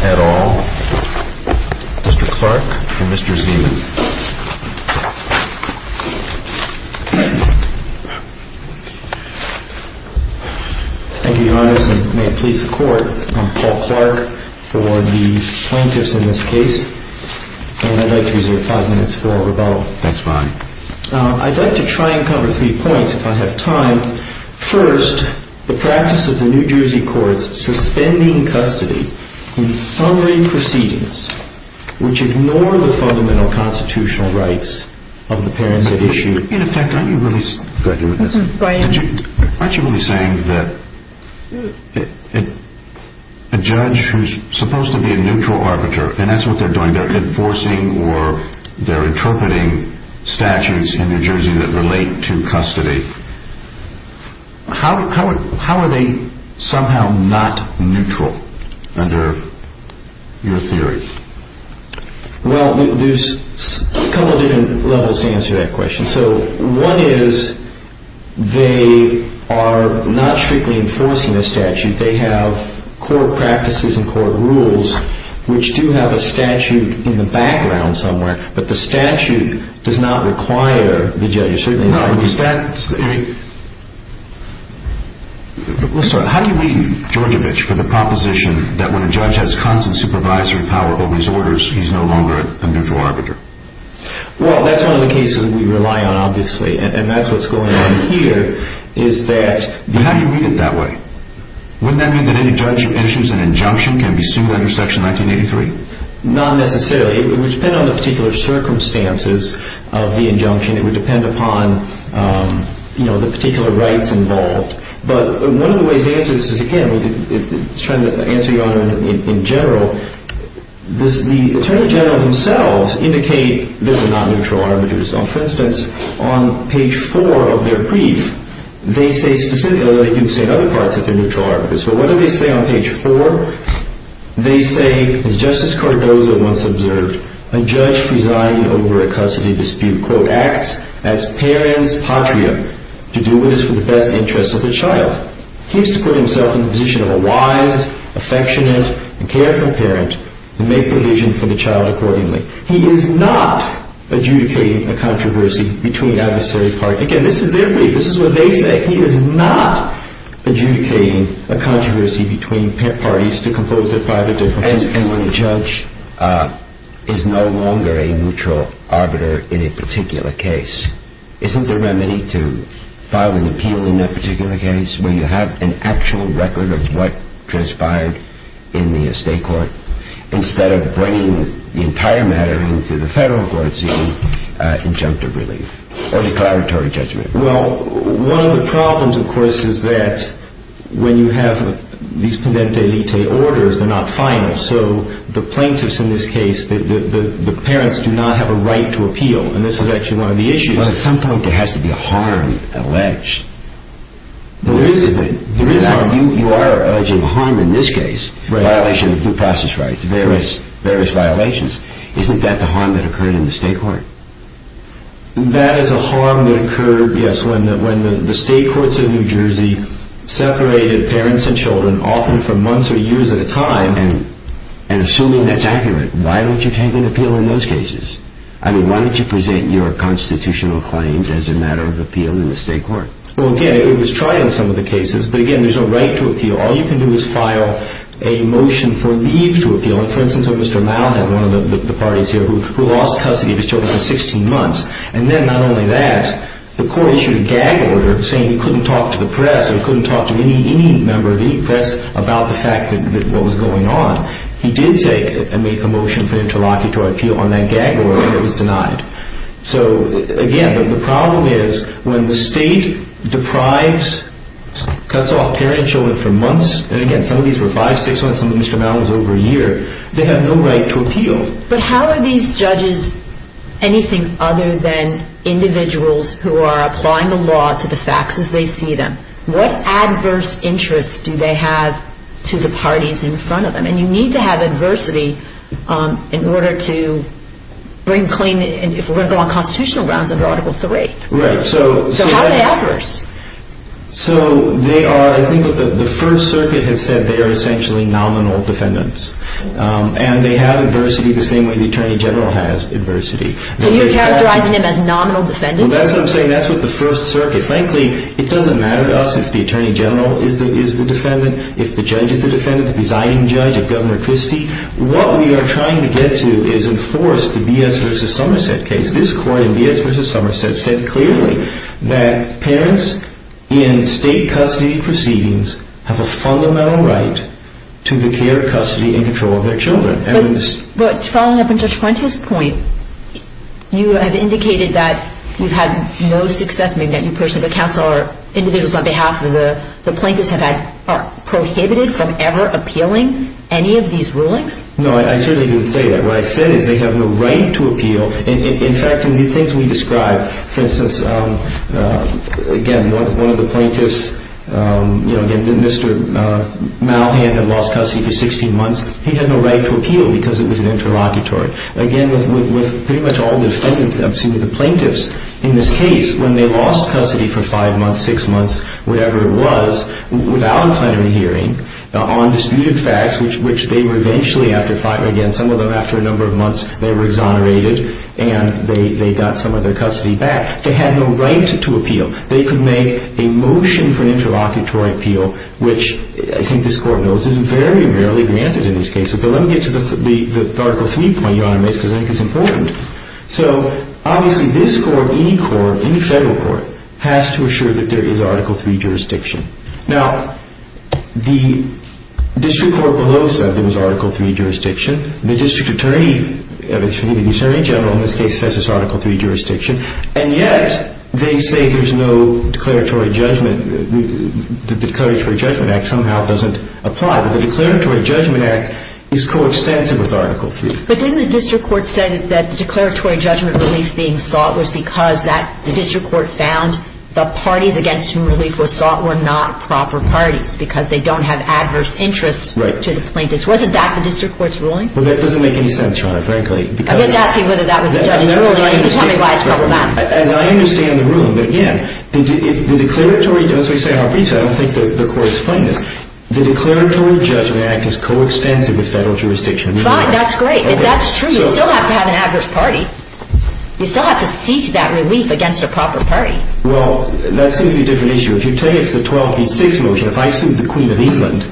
at all. Mr. Clark and Mr. Zeeman. Thank you, Your Honors, and may it please the Court, I'm Paul Clark for the plaintiffs in this case, and I'd like to reserve five minutes for rebuttal. That's fine. I'd like to try and cover three points, if I have three minutes. First, the practice of the New Jersey courts suspending custody in summary proceedings, which ignore the fundamental constitutional rights of the parents at issue. In effect, aren't you really saying that a judge who's supposed to be a neutral arbiter, and that's what they're doing, they're enforcing or they're interpreting statutes in New Jersey that relate to custody, how are they somehow not neutral under your theory? Well, there's a couple of different levels to answer that question. So one is they are not strictly enforcing the statute. They have court practices and court rules, which do have a statute in the How do you read, Georgevich, for the proposition that when a judge has constant supervisory power over his orders, he's no longer a neutral arbiter? Well, that's one of the cases we rely on, obviously, and that's what's going on here, is that... But how do you read it that way? Wouldn't that mean that any judge who issues an injunction can be sued under Section 1983? Not necessarily. It would depend on the particular circumstances of the injunction. It would depend upon the particular rights involved. But one of the ways to answer this is, again, I'm trying to answer you on it in general. The Attorney General themselves indicate they're not neutral arbiters. For instance, on page four of their brief, they say specifically, although they do say in other parts that they're neutral arbiters, but what do they say on page four? They say, as Justice Cardozo once observed, a judge presiding over a custody dispute, quote, acts as parent's patria. To do it is for the best interests of the child. He is to put himself in the position of a wise, affectionate and careful parent and make provision for the child accordingly. He is not adjudicating a controversy between adversary parties. Again, this is their brief. This is what they say. He is not adjudicating a controversy between parties to compose their private differences. And when the judge is no longer a neutral arbiter in a particular case, isn't there remedy to file an appeal in that particular case where you have an actual record of what transpired in the estate court instead of bringing the entire matter into the federal court scene, injunctive relief or declaratory judgment? Well, one of the problems, of course, is that when you have these pendente lite orders, they're not final. So the plaintiffs in this case, the parents do not have a right to appeal. And this is actually one of the issues. But at some point there has to be a harm alleged. There is a harm. You are alleging a harm in this case, violation of due process rights, various violations. Isn't that the harm that occurred in the estate court? That is a harm that occurred, yes, when the estate courts of New Jersey separated parents and children often for months or years at a time. And assuming that's accurate, why don't you take an appeal in those cases? I mean, why don't you present your constitutional claims as a matter of appeal in the estate court? Well, again, it was tried in some of the cases. But, again, there's no right to appeal. All you can do is file a motion for leave to appeal. And, for instance, when Mr. Laud had one of the parties here who lost custody of his children for 16 months, and then not only that, the court issued a gag order saying he couldn't talk to the press, he couldn't talk to any member of the press about the fact that what was going on. He did take and make a motion for him to appeal on that gag order, but it was denied. So, again, the problem is when the state deprives, cuts off parents and children for months, and, again, some of these were five, six months, some of Mr. Laud was over a year, they have no right to appeal. But how are these judges anything other than individuals who are applying the law to the facts as they see them? What adverse interests do they have to the parties in front of them? And you need to have adversity in order to bring claim, if we're going to go on constitutional grounds, under Article III. Right. So how are they adverse? So they are, I think what the First Circuit has said, they are essentially nominal defendants. And they have adversity the same way the Attorney General has adversity. So you're characterizing them as nominal defendants? Well, that's what I'm saying. That's what the First Circuit. Frankly, it doesn't matter to us if the Attorney General is the defendant, if the judge is the defendant, the presiding judge, or Governor Christie. What we are trying to get to is enforce the B.S. v. Somerset case. This court in B.S. v. Somerset said clearly that parents in state custody proceedings have a fundamental right to the care, custody, and control of their children. But following up on Judge Fuentes' point, you have indicated that you've had no success in getting that new person to counsel or individuals on behalf of the plaintiffs have been prohibited from ever appealing any of these rulings? No, I certainly didn't say that. What I said is they have no right to appeal. In fact, in the things we described, for instance, again, one of the plaintiffs, Mr. Malhand had lost custody for 16 months. He had no right to appeal because it was an interlocutory. Again, with pretty much all the defendants that I've seen with the plaintiffs in this case, when they lost custody for five months, six months, whatever it was, without a plenary hearing on disputed facts, which they were eventually, after five, again, some of them after a number of months, they were exonerated, and they got some of their custody back. They had no right to appeal. They could make a motion for an interlocutory appeal, which I think this court knows is very rarely granted in these cases. But let me get to the Article III point, Your Honor, because I think it's important. So obviously this court, any court, any federal court, has to assure that there is Article III jurisdiction. Now, the district court below said there was Article III jurisdiction. The district attorney, excuse me, the attorney general in this case says there's Article III jurisdiction. And yet they say there's no declaratory judgment. The Declaratory Judgment Act somehow doesn't apply. But the Declaratory Judgment Act is coextensive with Article III. But didn't the district court say that the declaratory judgment relief being sought was because the district court found the parties against whom relief was sought were not proper parties because they don't have adverse interests to the plaintiffs? Right. Wasn't that the district court's ruling? Well, that doesn't make any sense, Your Honor, frankly. I'm just asking whether that was the judge's ruling. You can tell me why it's problematic. And I understand the ruling, but again, the declaratory, as we say in our briefs, I don't think the court explained this. The Declaratory Judgment Act is coextensive with federal jurisdiction. Fine. That's great. That's true. You still have to have an adverse party. You still have to seek that relief against a proper party. Well, that seems to be a different issue. If you take the 12B6 motion, if I sued the Queen of England,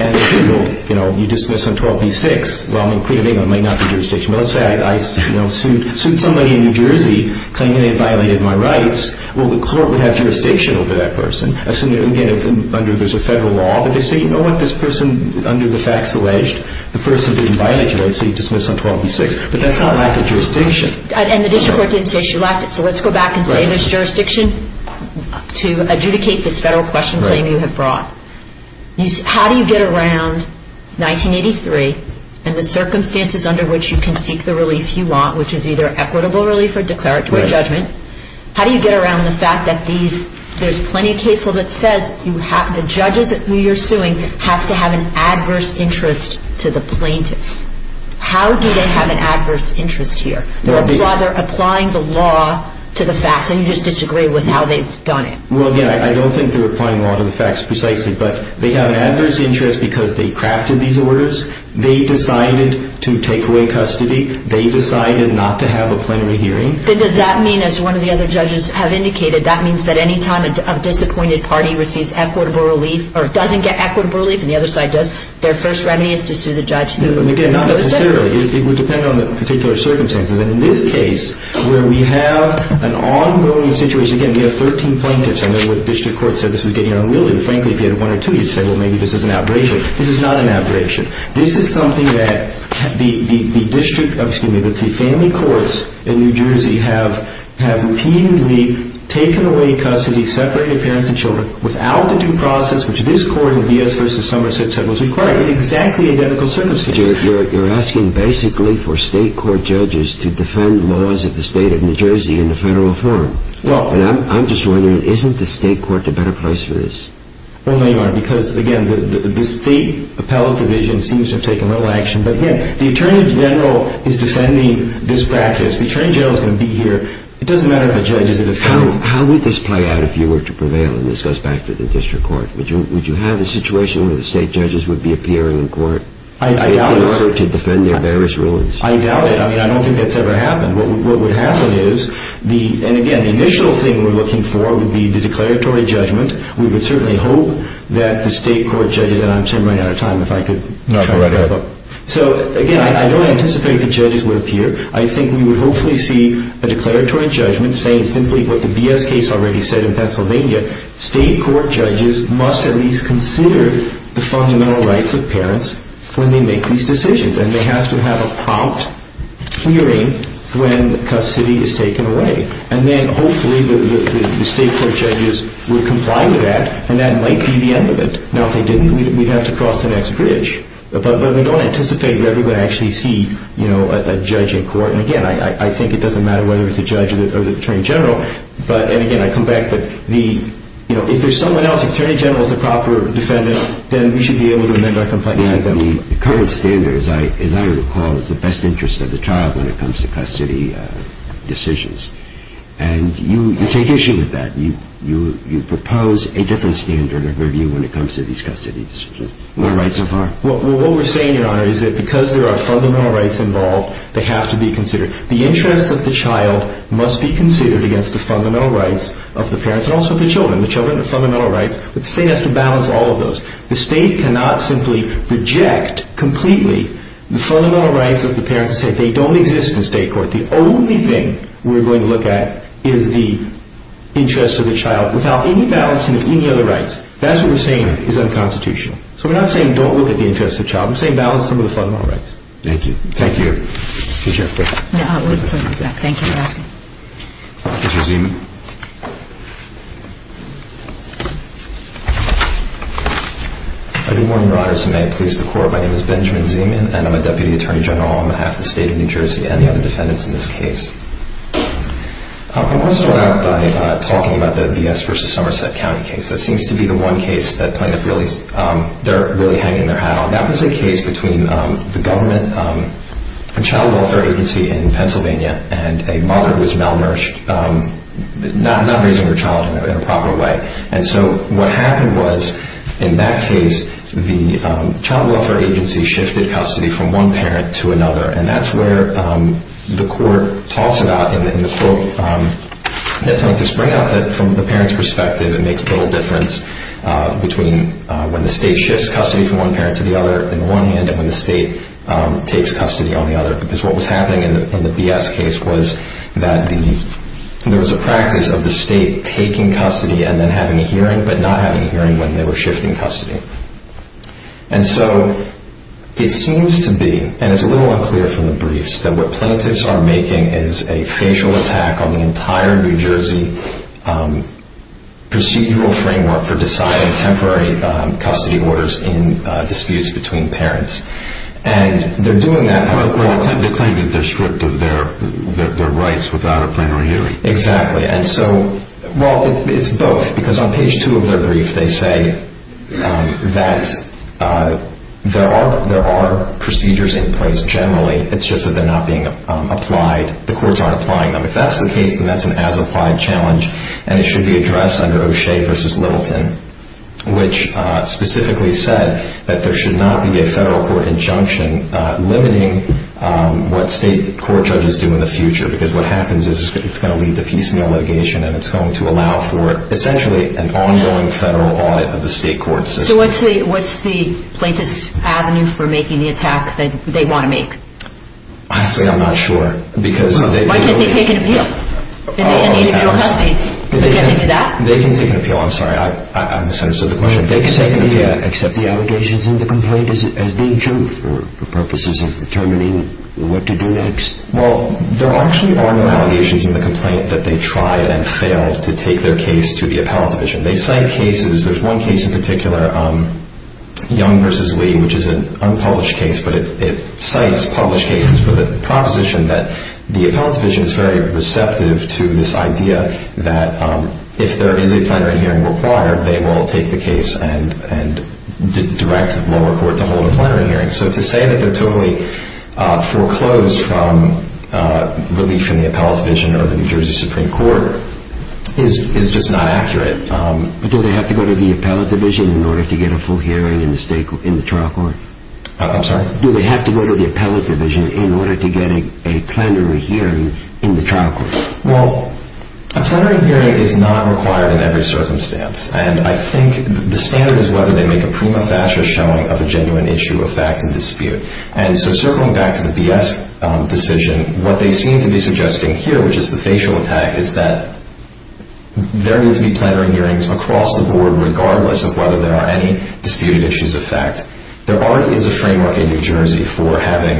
and you dismiss on 12B6, well, the Queen of England may not be jurisdiction. But let's say I sued somebody in New Jersey claiming they violated my rights. Well, the court would have jurisdiction over that person. Assuming, again, under there's a federal law, but you see, you know what this person under the facts alleged? The person didn't violate your rights, so you dismiss on 12B6. But that's not lack of jurisdiction. And the district court didn't say she lacked it. So let's go back and say there's jurisdiction to adjudicate this federal question claim you have brought. How do you get around 1983 and the circumstances under which you can seek the relief you want, which is either equitable relief or declaratory judgment, how do you get around the fact that there's plenty of case law that says the judges who you're suing have to have an adverse interest to the plaintiffs? How do they have an adverse interest here? They're applying the law to the facts, and you just disagree with how they've done it. Well, again, I don't think they're applying law to the facts precisely, but they have an adverse interest because they crafted these orders. They decided to take away custody. They decided not to have a plenary hearing. Then does that mean, as one of the other judges have indicated, that means that any time a disappointed party receives equitable relief or doesn't get equitable relief, and the other side does, their first remedy is to sue the judge who is sick? Again, not necessarily. It would depend on the particular circumstances. And in this case, where we have an ongoing situation, again, we have 13 plaintiffs. I remember the district court said this was getting unwieldy. Frankly, if you had one or two, you'd say, well, maybe this is an outbreak. This is not an outbreak. This is something that the family courts in New Jersey have repeatedly taken away custody, separated parents and children, without the due process which this court in B.S. v. Somerset said was required, in exactly identical circumstances. You're asking basically for state court judges to defend laws of the state of New Jersey in the federal forum. And I'm just wondering, isn't the state court the better place for this? Well, they are because, again, the state appellate division seems to have taken little action. But, again, the attorney general is defending this practice. The attorney general is going to be here. It doesn't matter if a judge is at a federal forum. How would this play out if you were to prevail? And this goes back to the district court. Would you have a situation where the state judges would be appearing in court? I doubt it. In order to defend their various rulings. I doubt it. I mean, I don't think that's ever happened. What would happen is the – and, again, the initial thing we're looking for would be the declaratory judgment. We would certainly hope that the state court judges – and I'm running out of time. If I could try to wrap up. No, go right ahead. So, again, I don't anticipate the judges would appear. I think we would hopefully see a declaratory judgment saying simply what the BS case already said in Pennsylvania. State court judges must at least consider the fundamental rights of parents when they make these decisions. And they have to have a prompt hearing when custody is taken away. And then, hopefully, the state court judges would comply with that, and that might be the end of it. Now, if they didn't, we'd have to cross the next bridge. But we don't anticipate that we're going to actually see a judge in court. And, again, I think it doesn't matter whether it's a judge or the attorney general. And, again, I come back. But if there's someone else, if the attorney general is the proper defendant, then we should be able to amend our complaint. The current standard, as I recall, is the best interest of the child when it comes to custody decisions. And you take issue with that. You propose a different standard of review when it comes to these custody decisions. No right so far. Well, what we're saying, Your Honor, is that because there are fundamental rights involved, they have to be considered. The interests of the child must be considered against the fundamental rights of the parents and also of the children. The children have fundamental rights, but the state has to balance all of those. The state cannot simply reject completely the fundamental rights of the parents and say they don't exist in state court. The only thing we're going to look at is the interests of the child without any balancing of any other rights. That's what we're saying is unconstitutional. So we're not saying don't look at the interests of the child. We're saying balance some of the fundamental rights. Thank you. Thank you. Please, Your Honor. Wait until he comes back. Thank you for asking. Mr. Zeman. I do warn Your Honors, and may it please the Court, my name is Benjamin Zeman, and I'm a deputy attorney general on behalf of the state of New Jersey and the other defendants in this case. I want to start out by talking about the B.S. v. Somerset County case. That seems to be the one case that plaintiffs really hang in their hat on. That was a case between the government, a child welfare agency in Pennsylvania, and a mother who was malnourished, not raising her child in a proper way. And so what happened was, in that case, the child welfare agency shifted custody from one parent to another, and that's where the court talks about in the quote, that plaintiffs bring up that, from the parent's perspective, it makes little difference between when the state shifts custody from one parent to the other in one hand and when the state takes custody on the other. Because what was happening in the B.S. case was that there was a practice of the state taking custody and then having a hearing, but not having a hearing when they were shifting custody. And so it seems to be, and it's a little unclear from the briefs, that what plaintiffs are making is a facial attack on the entire New Jersey procedural framework for deciding temporary custody orders in disputes between parents. And they're doing that... Well, they claim that they're stripped of their rights without a plenary hearing. Exactly. And so, well, it's both. Because on page two of their brief, they say that there are procedures in place, generally. It's just that they're not being applied. The courts aren't applying them. If that's the case, then that's an as-applied challenge, and it should be addressed under O'Shea v. Littleton, which specifically said that there should not be a federal court injunction limiting what state court judges do in the future, because what happens is it's going to lead to piecemeal litigation and it's going to allow for, essentially, an ongoing federal audit of the state court system. So what's the plaintiff's avenue for making the attack that they want to make? Honestly, I'm not sure. Why can't they take an appeal? In the end, they need to be on custody. They can take an appeal. I'm sorry, I misunderstood the question. They can take an appeal, except the allegations in the complaint as being true for purposes of determining what to do next. Well, there actually are no allegations in the complaint that they tried and failed to take their case to the appellate division. They cite cases. There's one case in particular, Young v. Lee, which is an unpublished case, but it cites published cases for the proposition that the appellate division is very receptive to this idea that if there is a plenary hearing required, they will take the case and direct the lower court to hold a plenary hearing. So to say that they're totally foreclosed from relief from the appellate division or the New Jersey Supreme Court is just not accurate. But do they have to go to the appellate division in order to get a full hearing in the trial court? I'm sorry? Do they have to go to the appellate division in order to get a plenary hearing in the trial court? Well, a plenary hearing is not required in every circumstance, and I think the standard is whether they make a prima facie showing of a genuine issue of fact and dispute. And so circling back to the BS decision, what they seem to be suggesting here, which is the facial attack, is that there needs to be plenary hearings across the board regardless of whether there are any disputed issues of fact. There already is a framework in New Jersey for having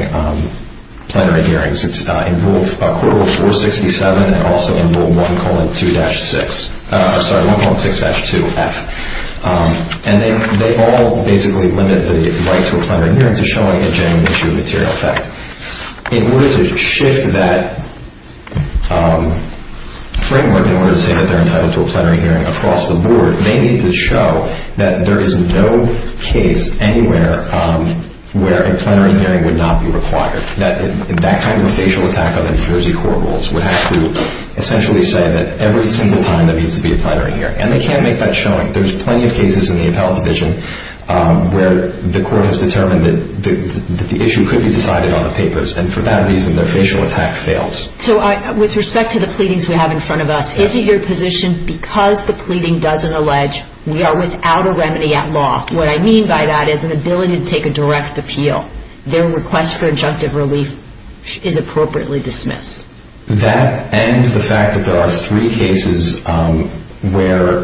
plenary hearings. It's in Rule 467 and also in Rule 1.6-2F. And they all basically limit the right to a plenary hearing to showing a genuine issue of material fact. In order to shift that framework, in order to say that they're entitled to a plenary hearing across the board, they need to show that there is no case anywhere where a plenary hearing would not be required. That kind of a facial attack on the New Jersey court rules would have to essentially say that every single time there needs to be a plenary hearing. And they can't make that showing. There's plenty of cases in the appellate division where the court has determined that the issue could be decided on the papers. And for that reason, their facial attack fails. So with respect to the pleadings we have in front of us, is it your position because the pleading doesn't allege we are without a remedy at law, what I mean by that is an ability to take a direct appeal. Their request for injunctive relief is appropriately dismissed. That and the fact that there are three cases where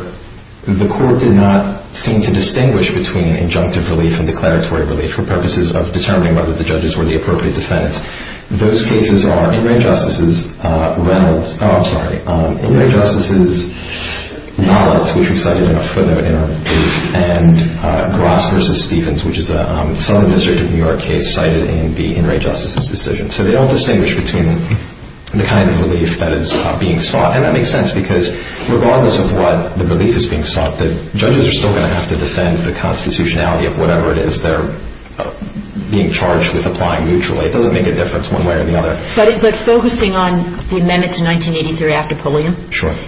the court did not seem to distinguish between injunctive relief and declaratory relief for purposes of determining whether the judges were the appropriate defendants. Those cases are In Re Justices' Reynolds, oh, I'm sorry, In Re Justices' Knowledge, which we cited in our brief, and Gross v. Stevens, which is a Southern District of New York case cited in the In Re Justices' decision. So they all distinguish between the kind of relief that is being sought. And that makes sense because regardless of what the relief is being sought, the judges are still going to have to defend the constitutionality of whatever it is they're being charged with applying mutually. It doesn't make a difference one way or the other. But focusing on the amendments in 1983 after Pulliam,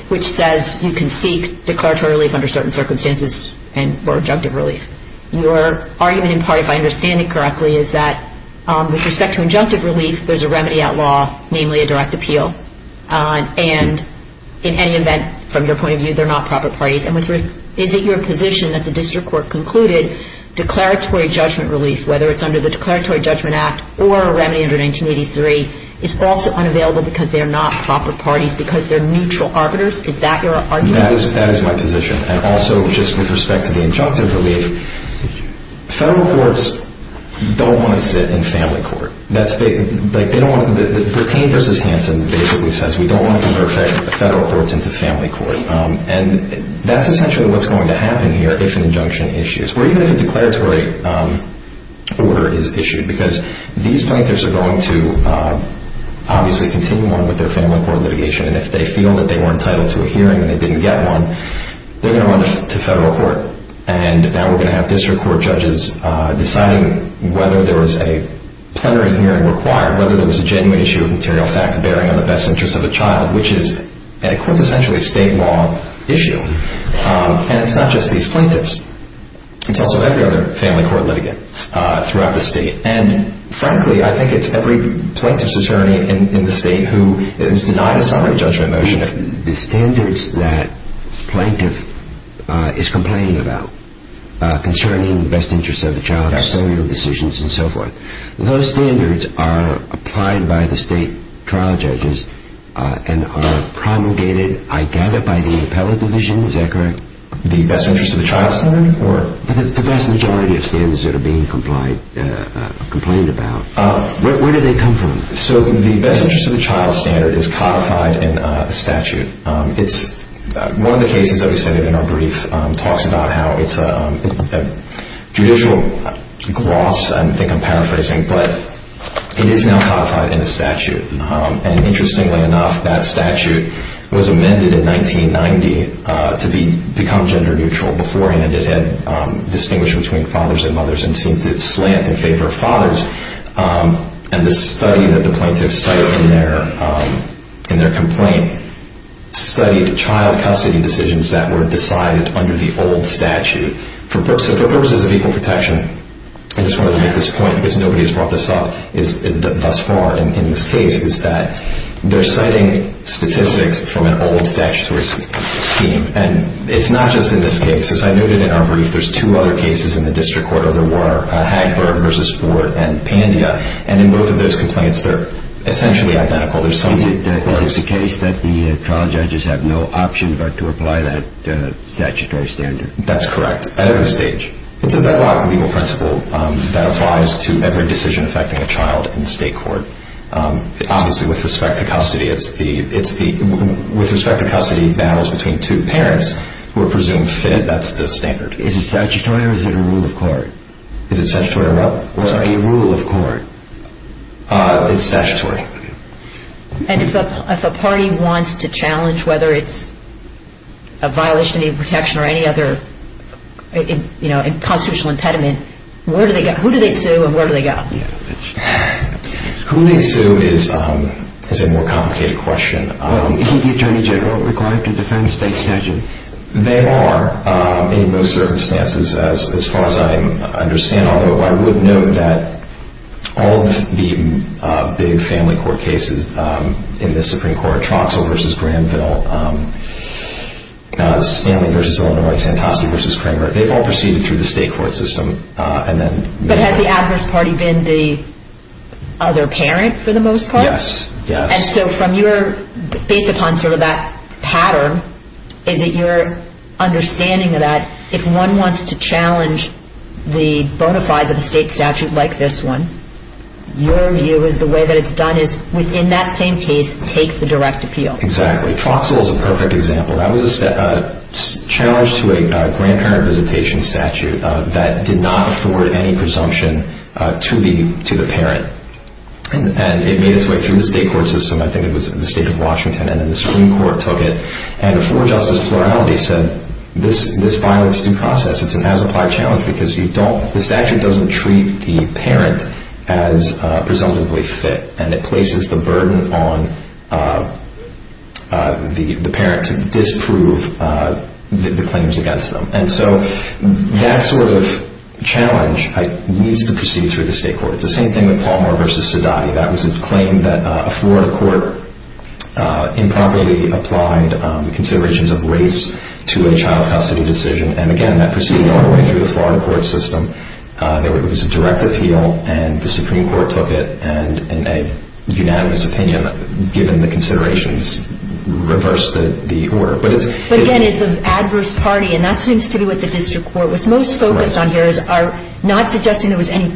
which says you can seek declaratory relief under certain circumstances or injunctive relief. Your argument in part, if I understand it correctly, is that with respect to injunctive relief, there's a remedy at law, namely a direct appeal. And in any event, from your point of view, they're not proper parties. And is it your position that the district court concluded declaratory judgment relief, whether it's under the Declaratory Judgment Act or a remedy under 1983, is also unavailable because they're not proper parties, because they're neutral arbiters? Is that your argument? That is my position. And also just with respect to the injunctive relief, federal courts don't want to sit in family court. Bertine v. Hanson basically says we don't want to convert federal courts into family court. And that's essentially what's going to happen here if an injunction issues. Or even if a declaratory order is issued, because these plaintiffs are going to obviously continue on with their family court litigation. And if they feel that they were entitled to a hearing and they didn't get one, they're going to run to federal court. And now we're going to have district court judges deciding whether there was a plenary hearing required, whether there was a genuine issue of material fact bearing on the best interest of a child, which is a quintessentially state law issue. And it's not just these plaintiffs. It's also every other family court litigant throughout the state. And frankly, I think it's every plaintiff's attorney in the state who is denied a summary judgment motion. The standards that plaintiff is complaining about concerning the best interest of the child, custodial decisions, and so forth, those standards are applied by the state trial judges and are promulgated, I gather, by the appellate division. Is that correct? The best interest of the child standard? The vast majority of standards that are being complained about. Where do they come from? So the best interest of the child standard is codified in a statute. One of the cases that we cited in our brief talks about how it's a judicial gloss. I think I'm paraphrasing. But it is now codified in a statute. And interestingly enough, that statute was amended in 1990 to become gender neutral. Before then, it had distinguished between fathers and mothers and seemed to slant in favor of fathers. And the study that the plaintiffs cite in their complaint studied child custody decisions that were decided under the old statute. For purposes of equal protection, I just wanted to make this point because nobody has brought this up thus far in this case, is that they're citing statistics from an old statutory scheme. And it's not just in this case. As I noted in our brief, there's two other cases in the district court, or there were Hagler v. Ford and Pandia. And in both of those complaints, they're essentially identical. Is it the case that the trial judges have no option but to apply that statutory standard? That's correct. At every stage. It's a bedrock legal principle that applies to every decision affecting a child in the state court. Obviously, with respect to custody, it's the with respect to custody battles between two parents who are presumed fit. That's the standard. Is it statutory or is it a rule of court? Is it statutory or what? A rule of court. It's statutory. And if a party wants to challenge whether it's a violation of protection or any other constitutional impediment, who do they sue and where do they go? Who they sue is a more complicated question. Isn't the Attorney General required to defend state statute? They are in most circumstances as far as I understand. I would note that all of the big family court cases in the Supreme Court, Troxell v. Granville, Stanley v. Illinois, Santosky v. Kramer, they've all proceeded through the state court system. But has the adverse party been the other parent for the most part? Yes. And so based upon sort of that pattern, is it your understanding that if one wants to challenge the bona fides of a state statute like this one, your view is the way that it's done is within that same case, take the direct appeal. Exactly. Troxell is a perfect example. That was a challenge to a grandparent visitation statute that did not afford any presumption to the parent. And it made its way through the state court system. I think it was the state of Washington and then the Supreme Court took it. And a four-justice plurality said this violence is due process. It's an as-applied challenge because the statute doesn't treat the parent as presumptively fit, and it places the burden on the parent to disprove the claims against them. And so that sort of challenge needs to proceed through the state court. It's the same thing with Palmer v. Sedati. That was a claim that a Florida court improperly applied considerations of race to a child custody decision. And, again, that proceeded all the way through the Florida court system. It was a direct appeal, and the Supreme Court took it. And in a unanimous opinion, given the considerations, reversed the order. But, again, it's the adverse party, and that seems to be what the district court was most focused on here is not suggesting there was any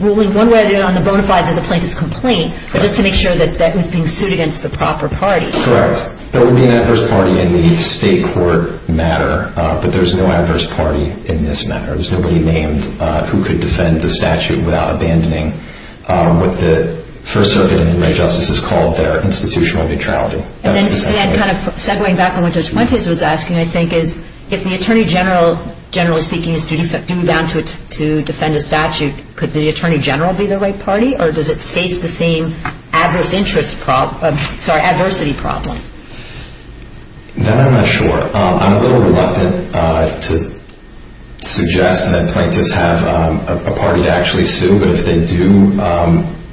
ruling one way or the other on the bona fides of the plaintiff's complaint, but just to make sure that that was being sued against the proper party. Correct. There would be an adverse party in the state court matter, but there's no adverse party in this matter. There's nobody named who could defend the statute without abandoning what the First Circuit and human rights justices called their institutional neutrality. And then kind of segwaying back on what Judge Fuentes was asking, I think, is if the attorney general, generally speaking, is due down to defend a statute, could the attorney general be the right party, or does it face the same adversity problem? That I'm not sure. I'm a little reluctant to suggest that plaintiffs have a party to actually sue, but if they do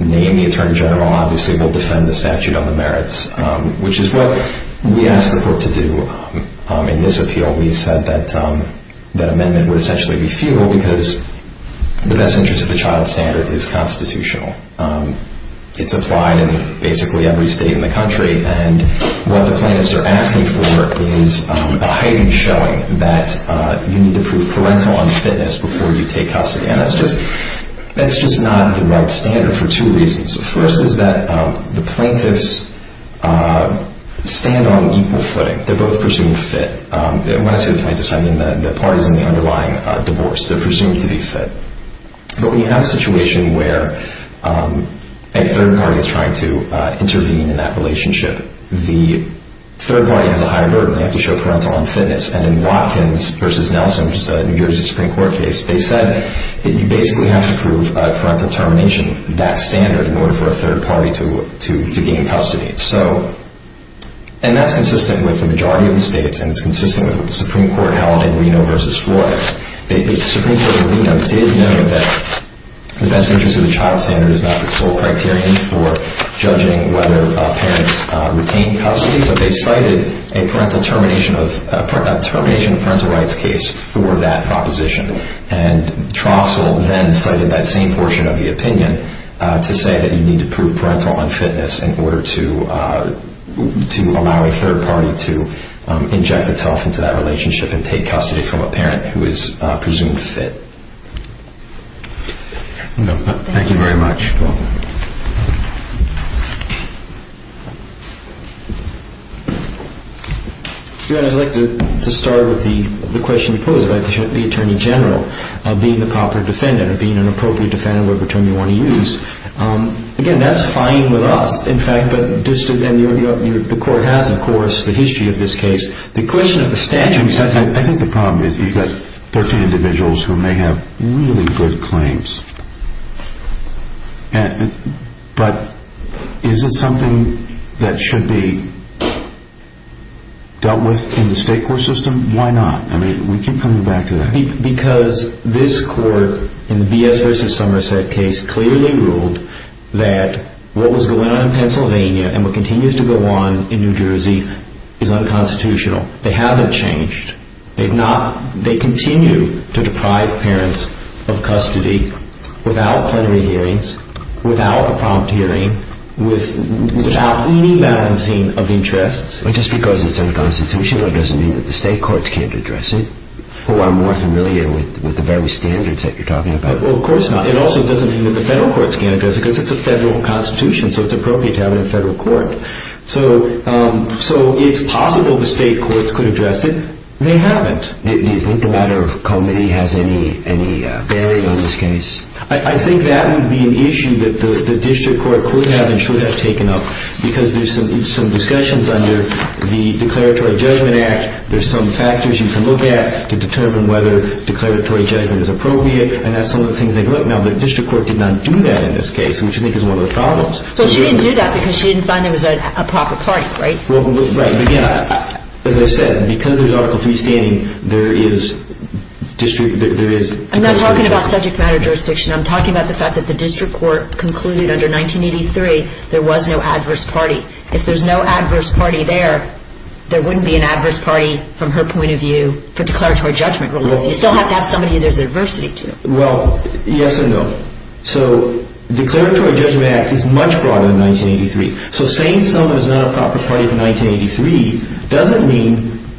name the attorney general, obviously we'll defend the statute on the merits, which is what we asked the court to do in this appeal. We said that amendment would essentially be futile because the best interest of the child standard is constitutional. It's applied in basically every state in the country, and what the plaintiffs are asking for is a heightened showing that you need to prove parental unfitness before you take custody. And that's just not the right standard for two reasons. The first is that the plaintiffs stand on equal footing. They're both presumed fit. When I say the plaintiffs, I mean the parties in the underlying divorce. They're presumed to be fit. But when you have a situation where a third party is trying to intervene in that relationship, the third party has a higher burden. They have to show parental unfitness. And in Watkins v. Nelson, which is a New Jersey Supreme Court case, they said that you basically have to prove parental termination, that standard, in order for a third party to gain custody. And that's consistent with the majority of the states, and it's consistent with what the Supreme Court held in Reno v. Florida. The Supreme Court of Reno did know that the best interest of the child standard is not the sole criterion for judging whether parents retain custody, but they cited a termination of parental rights case for that proposition. And Troxell then cited that same portion of the opinion to say that you need to prove parental unfitness in order to allow a third party to inject itself into that relationship and take custody from a parent who is presumed fit. Thank you very much. You're welcome. I'd like to start with the question you posed about the attorney general being the proper defendant or being an appropriate defendant, whatever term you want to use. Again, that's fine with us, in fact. But the court has, of course, the history of this case. The question of the statute... I think the problem is you've got 13 individuals who may have really good claims. But is it something that should be dealt with in the state court system? Why not? I mean, we keep coming back to that. Because this court, in the B.S. v. Somerset case, clearly ruled that what was going on in Pennsylvania and what continues to go on in New Jersey is unconstitutional. They haven't changed. They continue to deprive parents of custody without plenary hearings, without a prompt hearing, without any balancing of interests. Just because it's unconstitutional doesn't mean that the state courts can't address it who are more familiar with the very standards that you're talking about. Well, of course not. It also doesn't mean that the federal courts can't address it because it's a federal constitution, so it's appropriate to have it in a federal court. So it's possible the state courts could address it. They haven't. Do you think the matter of comity has any bearing on this case? I think that would be an issue that the district court could have and should have taken up because there's some discussions under the Declaratory Judgment Act. There's some factors you can look at to determine whether declaratory judgment is appropriate, and that's some of the things they could look at. Now, the district court did not do that in this case, which I think is one of the problems. Well, she didn't do that because she didn't find there was a proper party, right? Right. Again, as I said, because there's Article III standing, there is district, there is comity. I'm not talking about subject matter jurisdiction. I'm talking about the fact that the district court concluded under 1983 there was no adverse party. If there's no adverse party there, there wouldn't be an adverse party, from her point of view, for declaratory judgment. You still have to have somebody there's adversity to. Well, yes and no. So the Declaratory Judgment Act is much broader than 1983. So saying someone is not a proper party for 1983 doesn't mean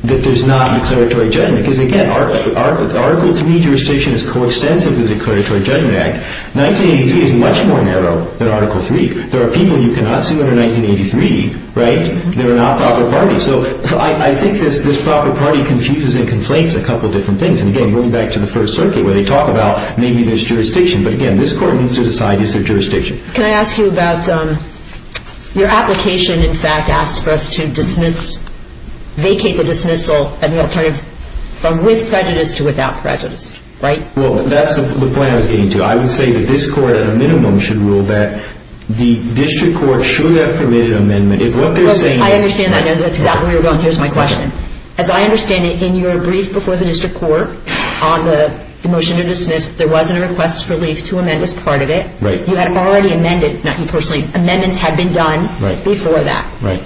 that there's not declaratory judgment because, again, Article III jurisdiction is coextensive with the Declaratory Judgment Act. 1983 is much more narrow than Article III. There are people you cannot sue under 1983, right? They're not proper parties. So I think this proper party confuses and conflates a couple different things. And, again, going back to the First Circuit where they talk about maybe there's jurisdiction. But, again, this Court needs to decide is there jurisdiction. Can I ask you about your application, in fact, asks for us to vacate the dismissal and the alternative from with prejudice to without prejudice, right? Well, that's the point I was getting to. I would say that this Court, at a minimum, should rule that the district court should have permitted amendment. I understand that. That's exactly where you're going. Here's my question. As I understand it, in your brief before the district court on the motion to dismiss, there wasn't a request for leave to amend as part of it. Right. You had already amended. Not you personally. Amendments had been done before that. Right.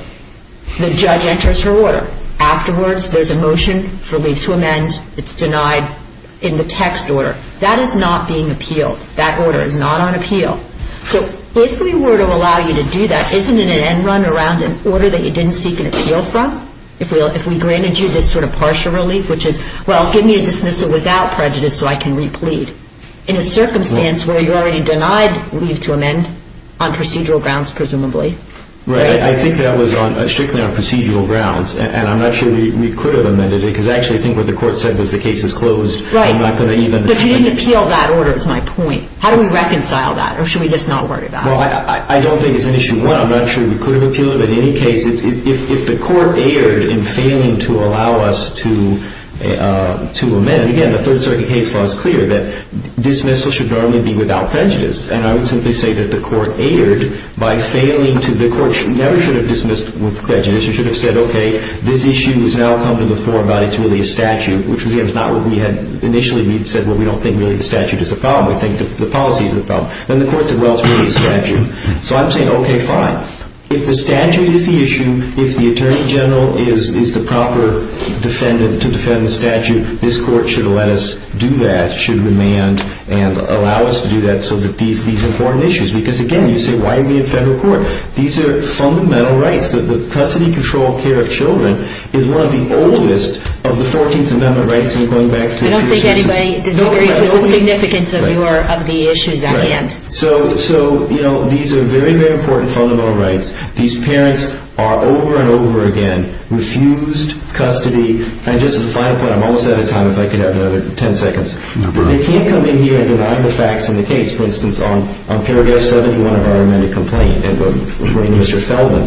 The judge enters her order. Afterwards, there's a motion for leave to amend. It's denied in the text order. That is not being appealed. That order is not on appeal. So if we were to allow you to do that, isn't it an end run around an order that you didn't seek an appeal from? If we granted you this sort of partial relief, which is, well, give me a dismissal without prejudice so I can replete, in a circumstance where you already denied leave to amend on procedural grounds, presumably? Right. I think that was strictly on procedural grounds. And I'm not sure we could have amended it because I actually think what the Court said was the case is closed. Right. I'm not going to even ---- But you didn't appeal that order, is my point. How do we reconcile that? Or should we just not worry about it? Well, I don't think it's an issue one. I'm not sure we could have appealed it. But in any case, if the Court erred in failing to allow us to amend, again, the Third Circuit case law is clear that dismissal should normally be without prejudice. And I would simply say that the Court erred by failing to ---- the Court never should have dismissed with prejudice. It should have said, okay, this issue has now come to the fore, but it's really a statute, which, again, is not what we had initially said. Well, we don't think really the statute is the problem. We think the policy is the problem. Then the Court said, well, it's really a statute. So I'm saying, okay, fine. If the statute is the issue, if the Attorney General is the proper defendant to defend the statute, this Court should let us do that, should amend and allow us to do that so that these are important issues. Because, again, you say, why are we in federal court? These are fundamental rights. The custody control care of children is one of the oldest of the 14th Amendment rights. I don't think anybody disagrees with the significance of the issues at hand. So, you know, these are very, very important fundamental rights. These parents are over and over again refused custody. And just as a final point, I'm almost out of time. If I could have another 10 seconds. They can't come in here and deny the facts in the case. For instance, on Paragraph 71 of our amended complaint, in front of Mr. Feldman,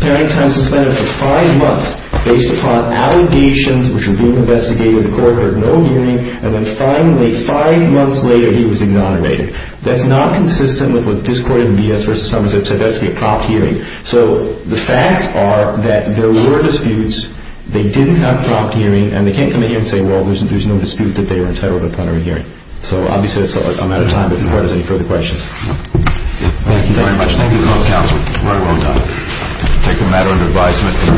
parenting time suspended for five months based upon allegations which were being investigated. The Court heard no hearing. And then finally, five months later, he was exonerated. That's not consistent with what this Court in B.S. v. Somerset said. That's to be a prompt hearing. So the facts are that there were disputes. They didn't have prompt hearing. And they can't come in here and say, well, there's no dispute that they were entitled upon hearing. So, obviously, I'm out of time. But if the Court has any further questions. Thank you very much. Thank you, Counsel. Very well done. Take the matter under advisement.